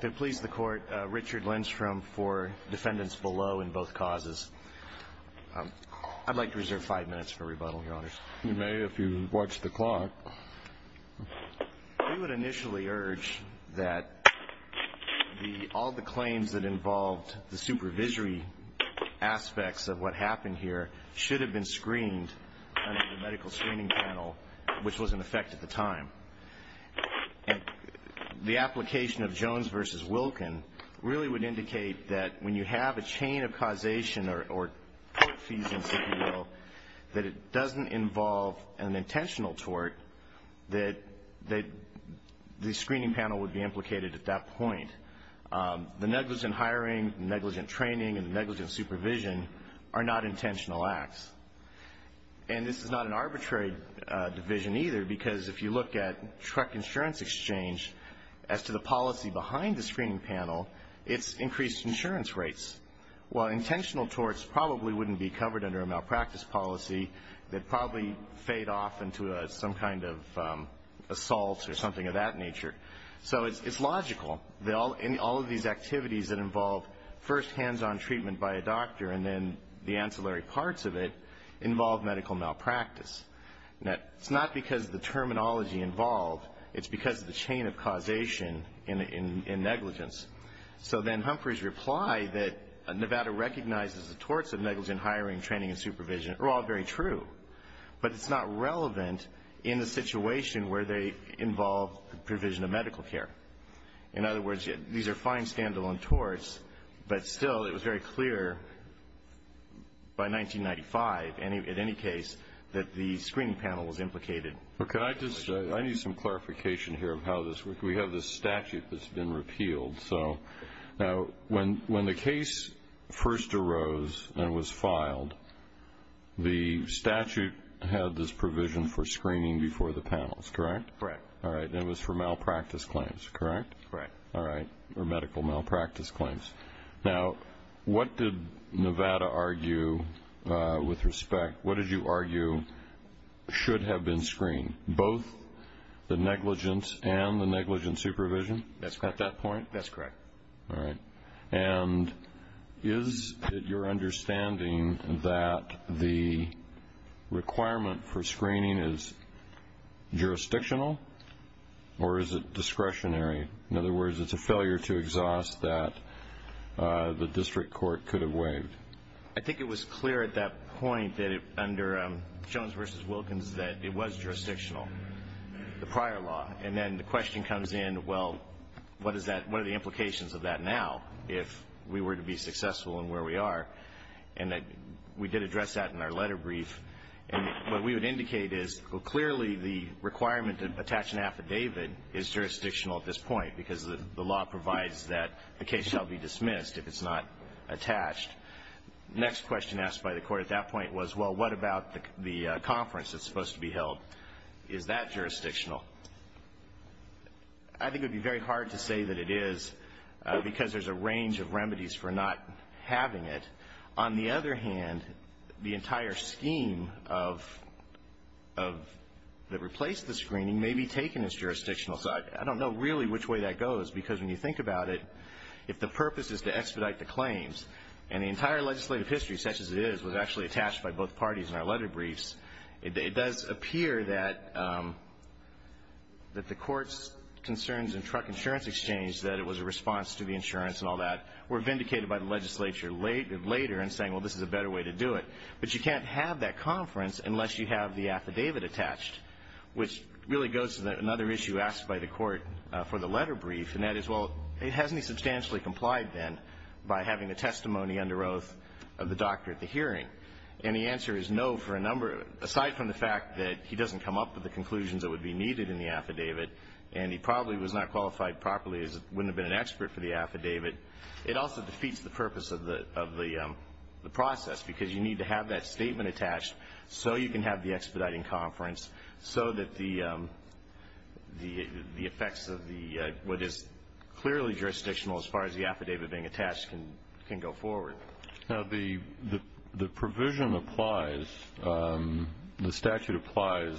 To please the court, Richard Lindstrom for defendants below in both causes. I'd like to reserve five minutes for rebuttal, your honors. You may, if you watch the clock. We would initially urge that all the claims that involved the supervisory aspects of what happened here should have been screened under the medical screening panel, which was in effect at the time. And the application of Jones v. Wilkin really would indicate that when you have a chain of causation or court fees, if you will, that it doesn't involve an intentional tort, that the screening panel would be implicated at that point. The negligent hiring, the negligent training, and the negligent supervision are not intentional acts. And this is not an arbitrary division either, because if you look at truck insurance exchange, as to the policy behind the screening panel, it's increased insurance rates. While intentional torts probably wouldn't be covered under a malpractice policy, they'd probably fade off into some kind of assault or something of that nature. So it's logical that all of these activities that involve first hands-on treatment by a doctor and then the ancillary parts of it involve medical malpractice. It's not because of the terminology involved. It's because of the chain of causation in negligence. So then Humphrey's reply that Nevada recognizes the torts of negligent hiring, training, and supervision are all very true. But it's not relevant in the situation where they involve the provision of medical care. In other words, these are fine standalone torts, but still it was very clear by 1995, at any case, that the screening panel was implicated. I need some clarification here of how this works. We have this statute that's been repealed. So when the case first arose and was filed, the statute had this provision for screening before the panels, correct? Correct. All right, and it was for malpractice claims, correct? Correct. All right, or medical malpractice claims. Now, what did Nevada argue with respect? What did you argue should have been screened, both the negligence and the negligent supervision at that point? That's correct. All right. And is it your understanding that the requirement for screening is jurisdictional, or is it discretionary? In other words, it's a failure to exhaust that the district court could have waived. I think it was clear at that point that under Jones v. Wilkins that it was jurisdictional, the prior law. And then the question comes in, well, what are the implications of that now if we were to be successful in where we are? And we did address that in our letter brief. And what we would indicate is clearly the requirement to attach an affidavit is jurisdictional at this point because the law provides that the case shall be dismissed if it's not attached. The next question asked by the court at that point was, well, what about the conference that's supposed to be held? Is that jurisdictional? I think it would be very hard to say that it is because there's a range of remedies for not having it. On the other hand, the entire scheme that replaced the screening may be taken as jurisdictional. So I don't know really which way that goes because when you think about it, if the purpose is to expedite the claims, and the entire legislative history, such as it is, was actually attached by both parties in our letter briefs, it does appear that the court's concerns in truck insurance exchange, that it was a response to the insurance and all that, were vindicated by the legislature later in saying, well, this is a better way to do it. But you can't have that conference unless you have the affidavit attached, which really goes to another issue asked by the court for the letter brief, and that is, well, hasn't he substantially complied then by having the testimony under oath of the doctor at the hearing? And the answer is no for a number of them. Aside from the fact that he doesn't come up with the conclusions that would be needed in the affidavit, and he probably was not qualified properly as wouldn't have been an expert for the affidavit, it also defeats the purpose of the process because you need to have that statement attached so you can have the expediting conference so that the effects of what is clearly jurisdictional as far as the affidavit being attached can go forward. Now, the provision applies, the statute applies,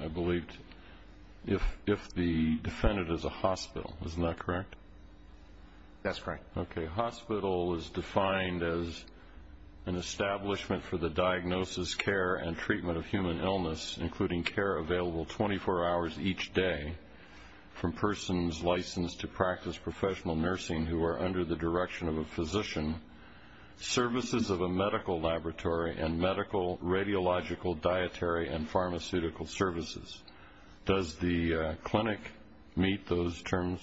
I believe, if the defendant is a hospital. Isn't that correct? That's correct. Okay. Hospital is defined as an establishment for the diagnosis, care, and treatment of human illness, including care available 24 hours each day from persons licensed to practice professional nursing who are under the direction of a physician, services of a medical laboratory, and medical radiological, dietary, and pharmaceutical services. Does the clinic meet those terms?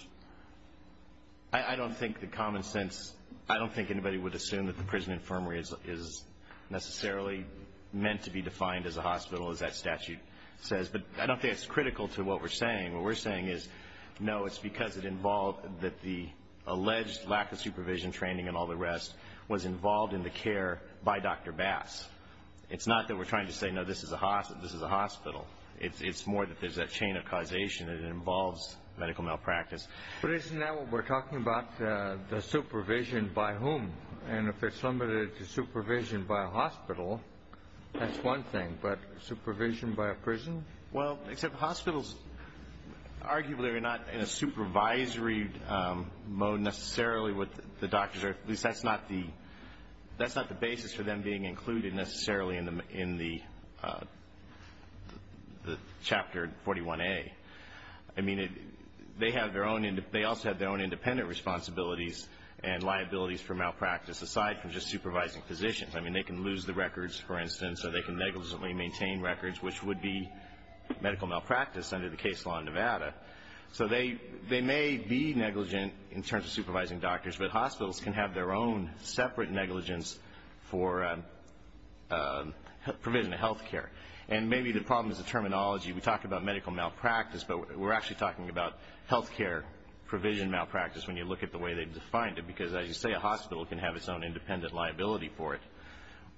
I don't think the common sense, I don't think anybody would assume that the prison infirmary is necessarily meant to be defined as a hospital, as that statute says, but I don't think it's critical to what we're saying. What we're saying is, no, it's because it involved that the alleged lack of supervision training and all the rest was involved in the care by Dr. Bass. It's not that we're trying to say, no, this is a hospital. It's more that there's that chain of causation that involves medical malpractice. But isn't that what we're talking about, the supervision by whom? And if it's limited to supervision by a hospital, that's one thing, but supervision by a prison? Well, except hospitals arguably are not in a supervisory mode necessarily with the doctors, or at least that's not the basis for them being included necessarily in the Chapter 41A. I mean, they also have their own independent responsibilities and liabilities for malpractice, aside from just supervising physicians. I mean, they can lose the records, for instance, or they can negligently maintain records, which would be medical malpractice under the case law in Nevada. So they may be negligent in terms of supervising doctors, but hospitals can have their own separate negligence for provision of health care. And maybe the problem is the terminology. We talk about medical malpractice, but we're actually talking about health care provision malpractice when you look at the way they've defined it because, as you say, a hospital can have its own independent liability for it,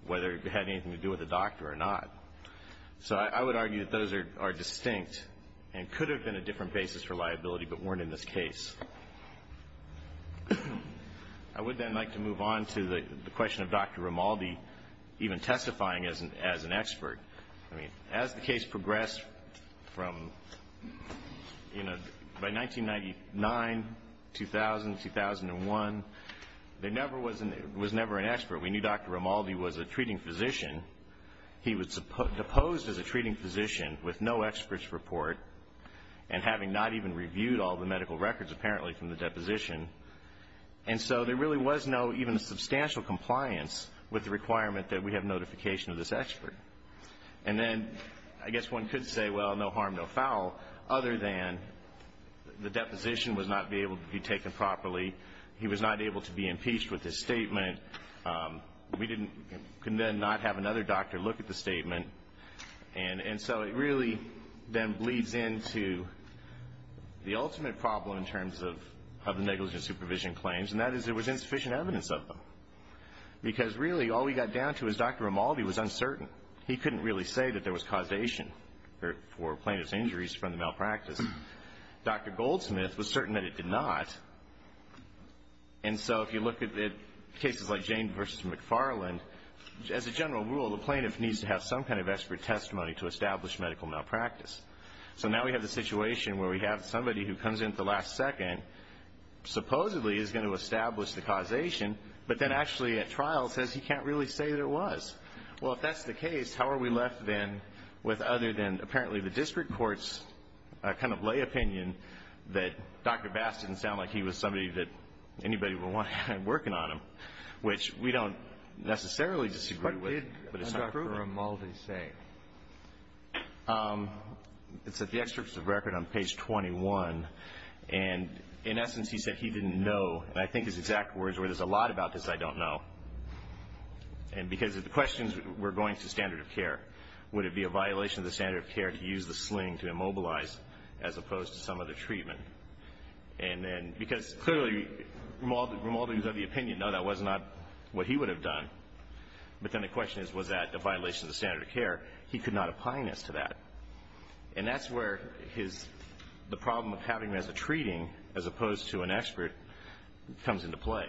whether it had anything to do with the doctor or not. So I would argue that those are distinct and could have been a different basis for liability but weren't in this case. I would then like to move on to the question of Dr. Romaldi even testifying as an expert. I mean, as the case progressed from, you know, by 1999, 2000, 2001, there never was an expert. We knew Dr. Romaldi was a treating physician. He was deposed as a treating physician with no expert's report and having not even reviewed all the medical records apparently from the deposition. And so there really was no even substantial compliance with the requirement that we have notification of this expert. And then I guess one could say, well, no harm, no foul, other than the deposition was not able to be taken properly. He was not able to be impeached with his statement. We could then not have another doctor look at the statement. And so it really then bleeds into the ultimate problem in terms of negligent supervision claims, and that is there was insufficient evidence of them because really all we got down to is Dr. Romaldi was uncertain. He couldn't really say that there was causation for plaintiff's injuries from the malpractice. Dr. Goldsmith was certain that it did not. And so if you look at cases like Jane v. McFarland, as a general rule, the plaintiff needs to have some kind of expert testimony to establish medical malpractice. So now we have the situation where we have somebody who comes in at the last second, supposedly is going to establish the causation, but then actually at trial says he can't really say that it was. Well, if that's the case, how are we left then with other than apparently the district court's kind of lay opinion that Dr. Bass didn't sound like he was somebody that anybody would want to have working on him, which we don't necessarily disagree with, but it's not proven. What did Dr. Romaldi say? It's at the extracts of record on page 21. And in essence, he said he didn't know. And I think his exact words were, there's a lot about this I don't know. And because of the questions, we're going to standard of care. Would it be a violation of the standard of care to use the sling to immobilize as opposed to some other treatment? And then because clearly Romaldi was of the opinion, no, that was not what he would have done. But then the question is, was that a violation of the standard of care? He could not opine as to that. And that's where the problem of having him as a treating as opposed to an expert comes into play.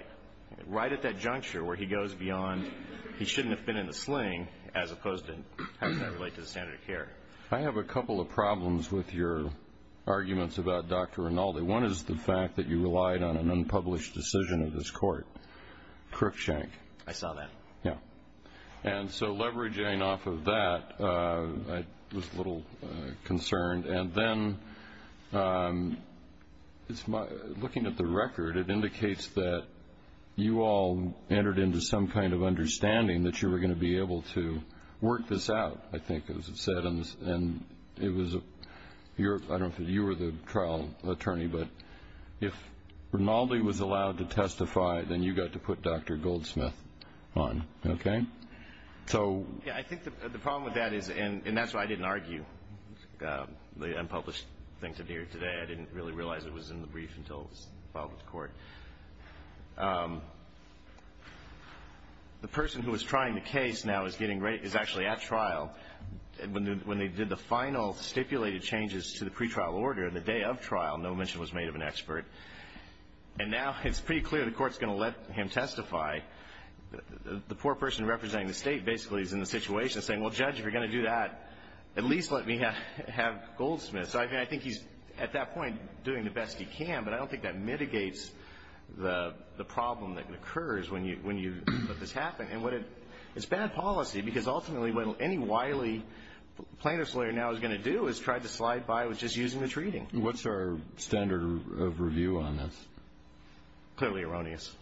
Right at that juncture where he goes beyond, he shouldn't have been in the sling as opposed to having that relate to the standard of care. I have a couple of problems with your arguments about Dr. Romaldi. One is the fact that you relied on an unpublished decision of this court, Crookshank. I saw that. Yeah. And so leveraging off of that, I was a little concerned. And then looking at the record, it indicates that you all entered into some kind of understanding that you were going to be able to work this out, I think, as it said. And I don't know if you were the trial attorney, but if Romaldi was allowed to testify, then you got to put Dr. Goldsmith on. Okay? Yeah, I think the problem with that is, and that's why I didn't argue the unpublished thing today. I didn't really realize it was in the brief until it was filed with the court. The person who is trying the case now is actually at trial. When they did the final stipulated changes to the pretrial order on the day of trial, no mention was made of an expert. And now it's pretty clear the court is going to let him testify. The poor person representing the state basically is in the situation saying, well, Judge, if you're going to do that, at least let me have Goldsmith. So I think he's, at that point, doing the best he can, but I don't think that mitigates the problem that occurs when you let this happen. And it's bad policy because ultimately what any wily plaintiff's lawyer now is going to do is try to slide by with just using the treating. What's our standard of review on this? Clearly erroneous.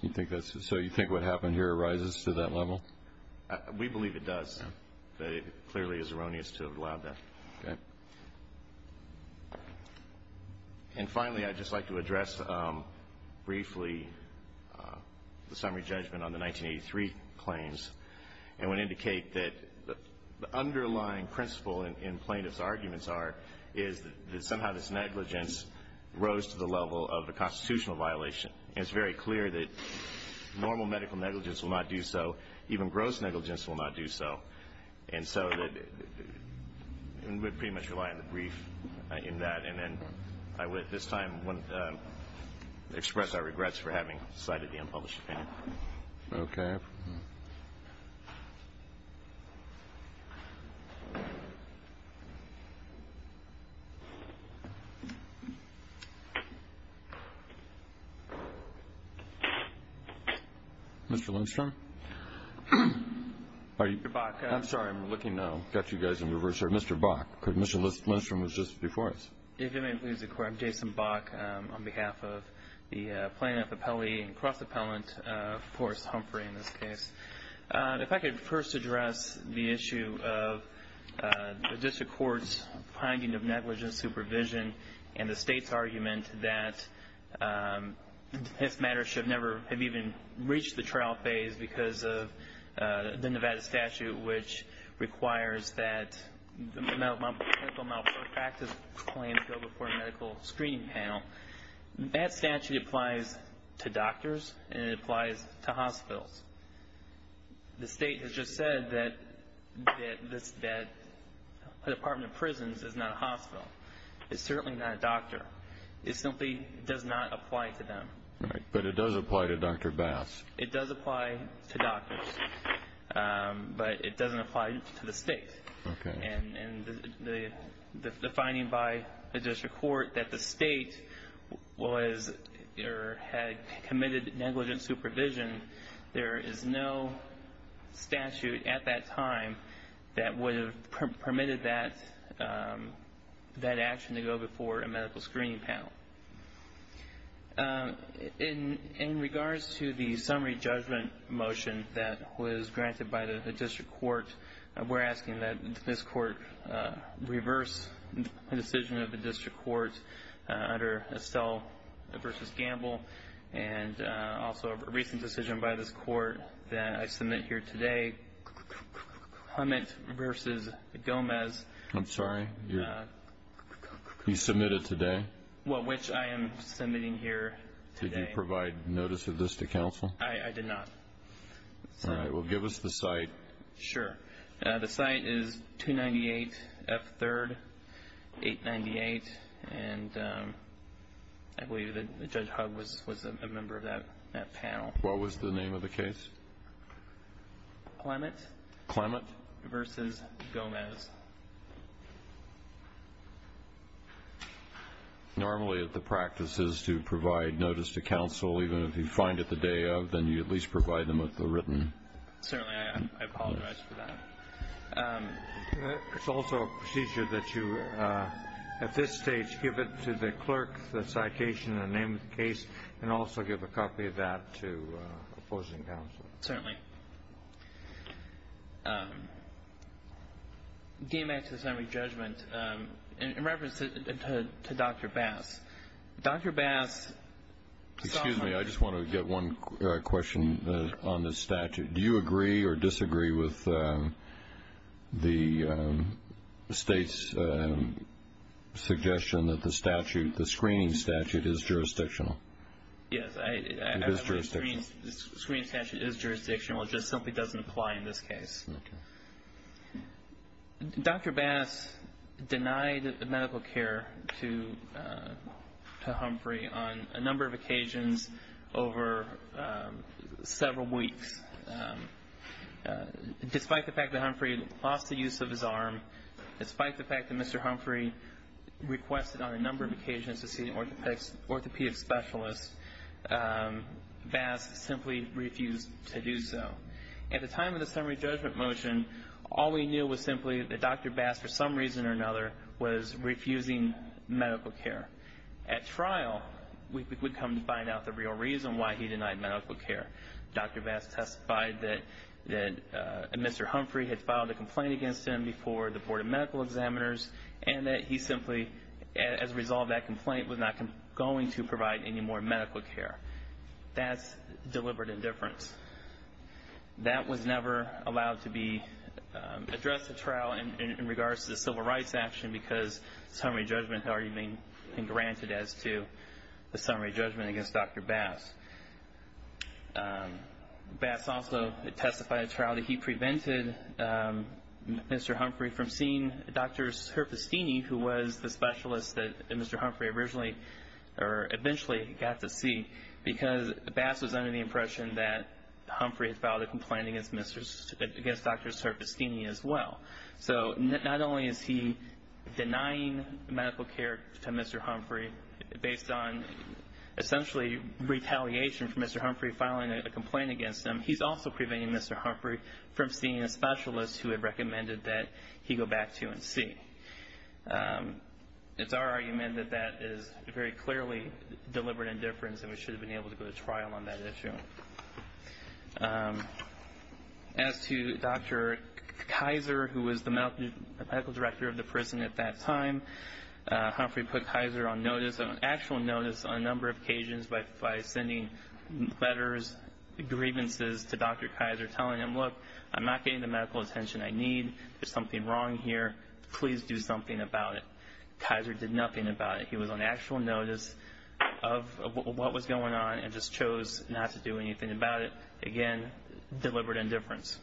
So you think what happened here rises to that level? We believe it does. It clearly is erroneous to have allowed that. Okay. And finally, I'd just like to address briefly the summary judgment on the 1983 claims. And would indicate that the underlying principle in plaintiff's arguments are is that somehow this negligence rose to the level of a constitutional violation. And it's very clear that normal medical negligence will not do so. Even gross negligence will not do so. And so we pretty much rely on the brief in that. And then I would at this time express our regrets for having cited the unpublished opinion. Okay. Mr. Lindstrom? I'm sorry. I'm looking to catch you guys in reverse. I'm sorry, Mr. Bach. Mr. Lindstrom was just before us. If you may please inquire. I'm Jason Bach on behalf of the plaintiff appellee and cross-appellant, Forrest Humphrey in this case. If I could first address the issue of the district court's finding of negligence supervision and the state's argument that this matter should never have even reached the trial phase because of the Nevada statute which requires that medical malpractice claims go before a medical screening panel. That statute applies to doctors and it applies to hospitals. The state has just said that a department of prisons is not a hospital. It's certainly not a doctor. It simply does not apply to them. Right. But it does apply to Dr. Bass. It does apply to doctors, but it doesn't apply to the state. Okay. And the finding by the district court that the state was or had committed negligent supervision, there is no statute at that time that would have permitted that action to go before a medical screening panel. In regards to the summary judgment motion that was granted by the district court, we're asking that this court reverse the decision of the district court under Estelle v. Gamble and also a recent decision by this court that I submit here today, Hummett v. Gomez. I'm sorry? You submit it today? Well, which I am submitting here today. Did you provide notice of this to counsel? I did not. All right. Well, give us the site. Sure. The site is 298 F. 3rd, 898. And I believe that Judge Hugg was a member of that panel. What was the name of the case? Clemmett v. Gomez. Normally the practice is to provide notice to counsel, even if you find it the day of, then you at least provide them with the written notice. Certainly. I apologize for that. It's also a procedure that you at this stage give it to the clerk, the citation, the name of the case, and also give a copy of that to opposing counsel. Certainly. All right. Getting back to the summary judgment, in reference to Dr. Bass, Dr. Bass. Excuse me. I just want to get one question on this statute. Do you agree or disagree with the State's suggestion that the statute, the screening statute, is jurisdictional? Yes. It is jurisdictional. The screening statute is jurisdictional. It just simply doesn't apply in this case. Okay. Dr. Bass denied medical care to Humphrey on a number of occasions over several weeks. Despite the fact that Humphrey lost the use of his arm, despite the fact that Mr. Humphrey requested on a number of occasions to see an orthopedic specialist, Bass simply refused to do so. At the time of the summary judgment motion, all we knew was simply that Dr. Bass, for some reason or another, was refusing medical care. At trial, we would come to find out the real reason why he denied medical care. Dr. Bass testified that Mr. Humphrey had filed a complaint against him before the Board of Medical Examiners and that he simply, as a result of that complaint, was not going to provide any more medical care. That's deliberate indifference. That was never allowed to be addressed at trial in regards to the civil rights action because the summary judgment had already been granted as to the summary judgment against Dr. Bass. Bass also testified at trial that he prevented Mr. Humphrey from seeing Dr. Serpestini, who was the specialist that Mr. Humphrey eventually got to see, because Bass was under the impression that Humphrey had filed a complaint against Dr. Serpestini as well. So not only is he denying medical care to Mr. Humphrey, based on essentially retaliation for Mr. Humphrey filing a complaint against him, he's also preventing Mr. Humphrey from seeing a specialist who had recommended that he go back to UNC. It's our argument that that is very clearly deliberate indifference and we should have been able to go to trial on that issue. As to Dr. Kaiser, who was the medical director of the prison at that time, Humphrey put Kaiser on actual notice on a number of occasions by sending letters, grievances to Dr. Kaiser telling him, look, I'm not getting the medical attention I need. There's something wrong here. Please do something about it. Kaiser did nothing about it. He was on actual notice of what was going on and just chose not to do anything about it. Again, deliberate indifference.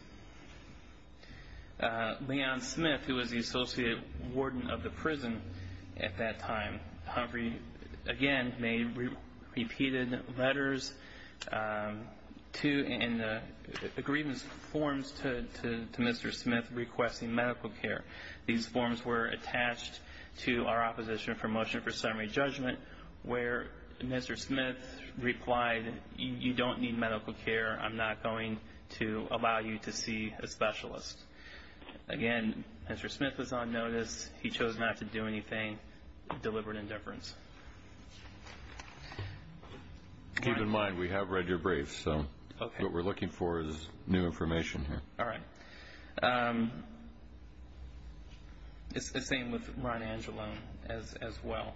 Leon Smith, who was the associate warden of the prison at that time, Humphrey again made repeated letters and grievance forms to Mr. Smith requesting medical care. These forms were attached to our opposition for motion for summary judgment where Mr. Smith replied, you don't need medical care. I'm not going to allow you to see a specialist. Again, Mr. Smith was on notice. He chose not to do anything. Deliberate indifference. Keep in mind, we have read your briefs, so what we're looking for is new information here. All right. It's the same with Ron Angelo as well.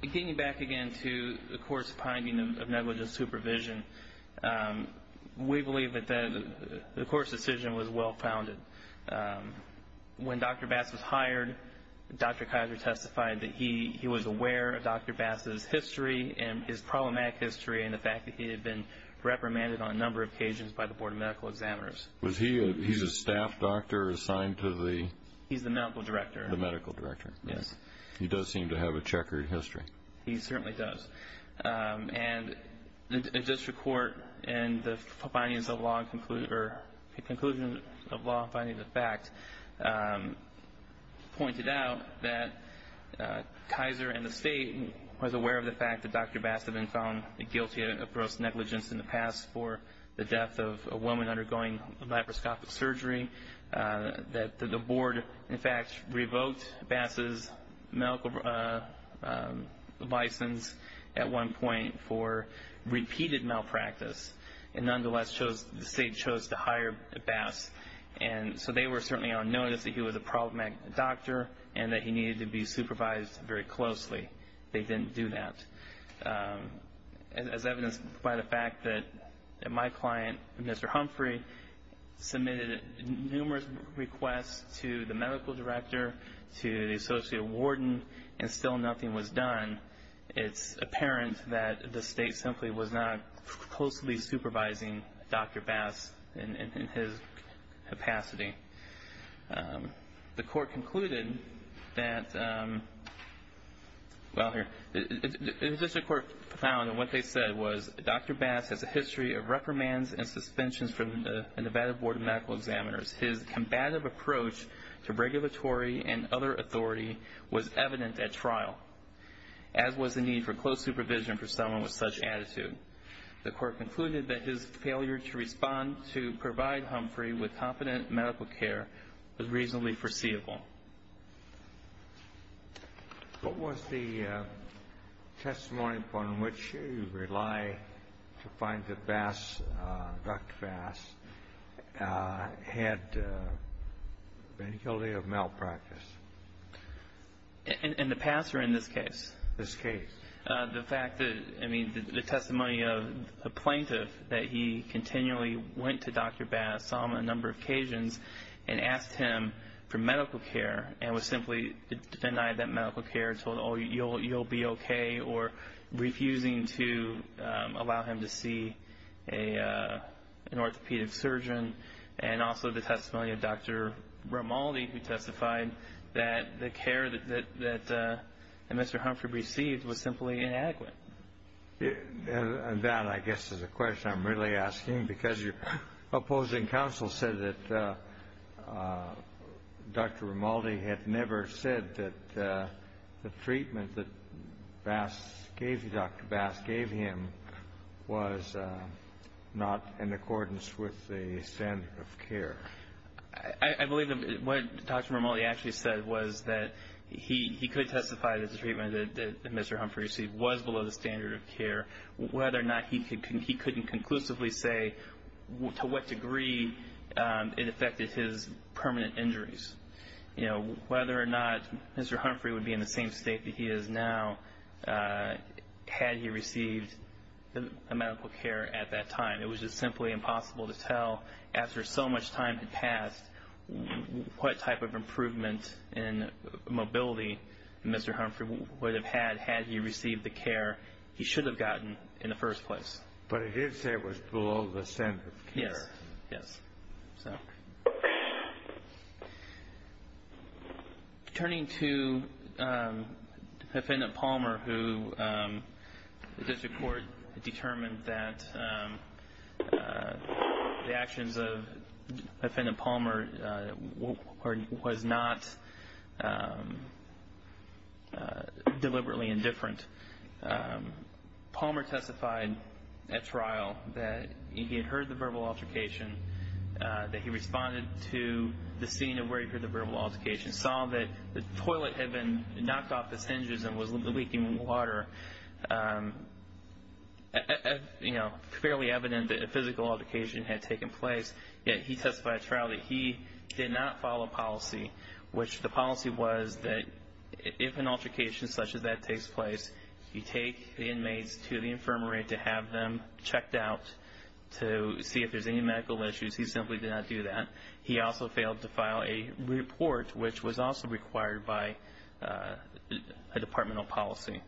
Getting back again to the court's finding of negligent supervision, we believe that the court's decision was well-founded. When Dr. Bass was hired, Dr. Kaiser testified that he was aware of Dr. Bass's history and his problematic history and the fact that he had been reprimanded on a number of occasions by the Board of Medical Examiners. He's a staff doctor assigned to the? He's the medical director. The medical director. Yes. He does seem to have a checkered history. He certainly does. And the district court in the findings of law, or the conclusion of law finding the fact, pointed out that Kaiser and the state was aware of the fact that Dr. Bass had been found guilty of gross negligence in the past for the death of a woman undergoing laparoscopic surgery, that the board, in fact, revoked Bass's medical license at one point for repeated malpractice, and nonetheless, the state chose to hire Bass. And so they were certainly on notice that he was a problematic doctor and that he needed to be supervised very closely. They didn't do that. As evidenced by the fact that my client, Mr. Humphrey, submitted numerous requests to the medical director, to the associate warden, and still nothing was done, it's apparent that the state simply was not closely supervising Dr. Bass in his capacity. The court concluded that, well, here. The district court found that what they said was, Dr. Bass has a history of reprimands and suspensions from the Nevada Board of Medical Examiners. His combative approach to regulatory and other authority was evident at trial. As was the need for close supervision for someone with such attitude. The court concluded that his failure to respond to provide Humphrey with competent medical care was reasonably foreseeable. What was the testimony upon which you rely to find that Bass, Dr. Bass, had been guilty of malpractice? In the past or in this case? This case. The fact that, I mean, the testimony of the plaintiff that he continually went to Dr. Bass on a number of occasions and asked him for medical care and was simply denied that medical care, told, oh, you'll be okay, or refusing to allow him to see an orthopedic surgeon, and also the testimony of Dr. Romaldi who testified that the care that Mr. Humphrey received was simply inadequate. That, I guess, is a question I'm really asking because your opposing counsel said that Dr. Romaldi had never said that the treatment that Bass gave him, Dr. Bass gave him, was not in accordance with the standard of care. I believe what Dr. Romaldi actually said was that he could testify that the treatment that Mr. Humphrey received was below the standard of care, whether or not he couldn't conclusively say to what degree it affected his permanent injuries. Whether or not Mr. Humphrey would be in the same state that he is now had he received medical care at that time. It was just simply impossible to tell after so much time had passed what type of improvement in mobility Mr. Humphrey would have had had he received the care he should have gotten in the first place. But he did say it was below the standard of care. Yes. Turning to Offendant Palmer who the district court determined that the actions of Offendant Palmer was not deliberately indifferent. Palmer testified at trial that he had heard the verbal altercation, that he responded to the scene of where he heard the verbal altercation, saw that the toilet had been knocked off its hinges and was leaking water, fairly evident that a physical altercation had taken place, yet he testified at trial that he did not follow policy, which the policy was that if an altercation such as that takes place, you take the inmates to the infirmary to have them checked out to see if there's any medical issues. He simply did not do that. He also failed to file a report which was also required by a departmental policy.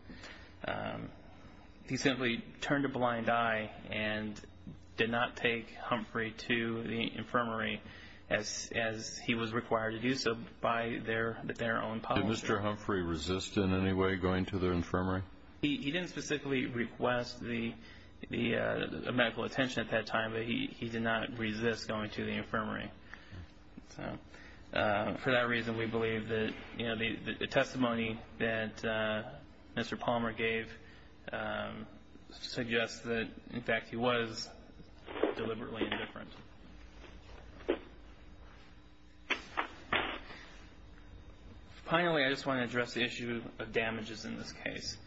He simply turned a blind eye and did not take Humphrey to the infirmary as he was required to do so, by their own policy. Did Mr. Humphrey resist in any way going to the infirmary? He didn't specifically request medical attention at that time, but he did not resist going to the infirmary. For that reason, we believe that the testimony that Mr. Palmer gave suggests that, in fact, he was deliberately indifferent. Finally, I just want to address the issue of damages in this case.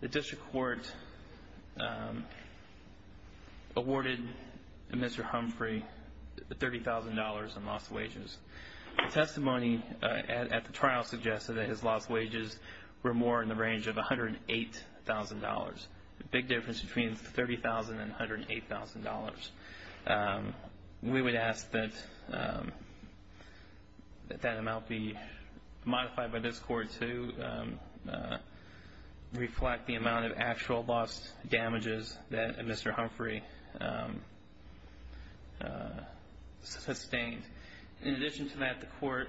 The district court awarded Mr. Humphrey $30,000 in lost wages. The testimony at the trial suggested that his lost wages were more in the range of $108,000. The big difference between $30,000 and $108,000. We would ask that that amount be modified by this court to reflect the amount of actual lost damages that Mr. Humphrey sustained. In addition to that, the court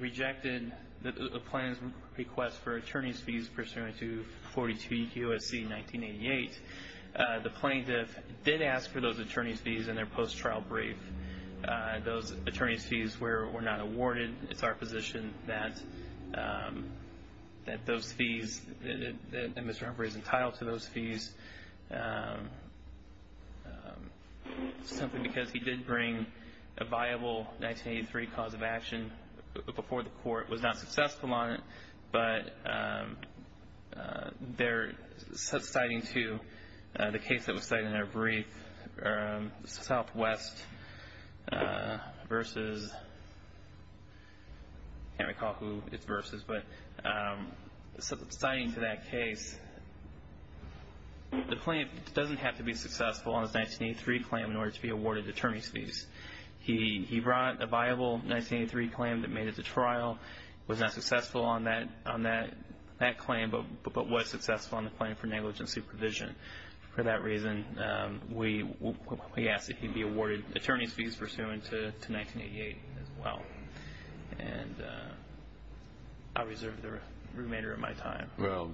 rejected the plaintiff's request for attorney's fees pursuant to 42 U.S.C. 1988. The plaintiff did ask for those attorney's fees in their post-trial brief. Those attorney's fees were not awarded. It's our position that Mr. Humphrey is entitled to those fees simply because he did bring a viable 1983 cause of action before the court. The court was not successful on it, but they're citing to the case that was cited in their brief, Southwest versus, I can't recall who it's versus, but citing to that case, the plaintiff doesn't have to be successful on his 1983 claim in order to be awarded attorney's fees. He brought a viable 1983 claim that made it to trial, was not successful on that claim, but was successful on the claim for negligent supervision. For that reason, we ask that he be awarded attorney's fees pursuant to 1988 as well. I reserve the remainder of my time. Well,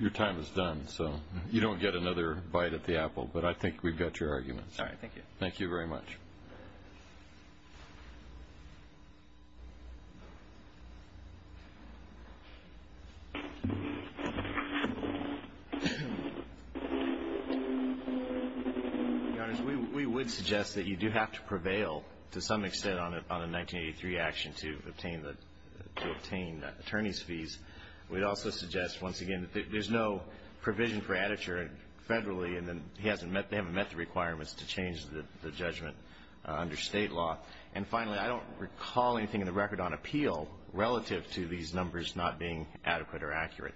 your time is done, so you don't get another bite at the apple, but I think we've got your arguments. All right. Thank you. Thank you very much. We would suggest that you do have to prevail to some extent on a 1983 action to obtain the attorney's fees. We'd also suggest, once again, that there's no provision for additure federally, and they haven't met the requirements to change the judgment under State law. And finally, I don't recall anything in the record on appeal relative to these numbers not being adequate or accurate.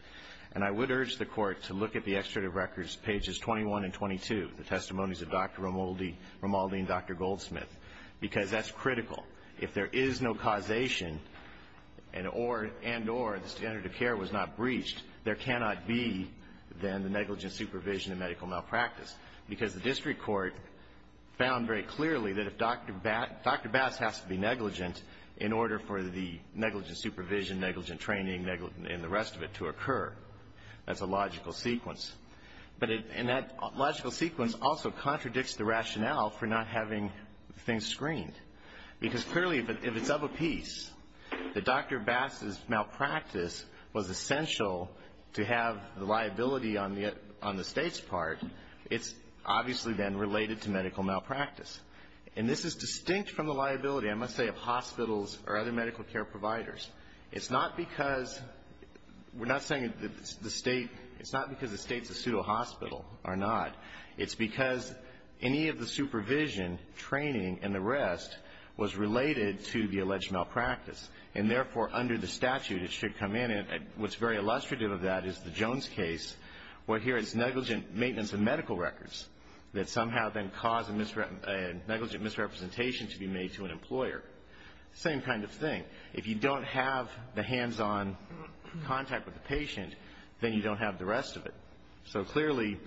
And I would urge the court to look at the extradited records, pages 21 and 22, the testimonies of Dr. Romaldi and Dr. Goldsmith, because that's critical. If there is no causation and or the standard of care was not breached, there cannot be, then, the negligent supervision and medical malpractice. Because the district court found very clearly that if Dr. Bass has to be negligent in order for the negligent supervision, negligent training, and the rest of it to occur. That's a logical sequence. And that logical sequence also contradicts the rationale for not having things screened. Because clearly, if it's of a piece that Dr. Bass's malpractice was essential to have the liability on the State's part, it's obviously then related to medical malpractice. And this is distinct from the liability, I must say, of hospitals or other medical care providers. It's not because we're not saying that the State, it's not because the State's a pseudo-hospital or not. It's because any of the supervision, training, and the rest was related to the alleged malpractice. And therefore, under the statute, it should come in. And what's very illustrative of that is the Jones case, where here it's negligent maintenance of medical records that somehow then cause a negligent misrepresentation to be made to an employer. Same kind of thing. If you don't have the hands-on contact with the patient, then you don't have the rest of it. So clearly,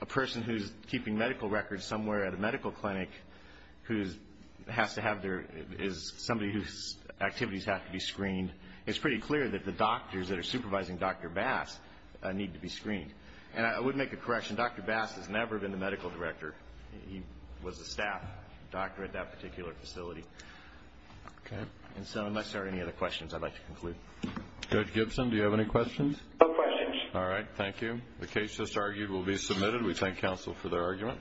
a person who's keeping medical records somewhere at a medical clinic, who has to have their, is somebody whose activities have to be screened, it's pretty clear that the doctors that are supervising Dr. Bass need to be screened. And I would make a correction. Dr. Bass has never been the medical director. He was a staff doctor at that particular facility. Okay. And so unless there are any other questions, I'd like to conclude. Judge Gibson, do you have any questions? No questions. All right. Thank you. The case just argued will be submitted. We thank counsel for their argument.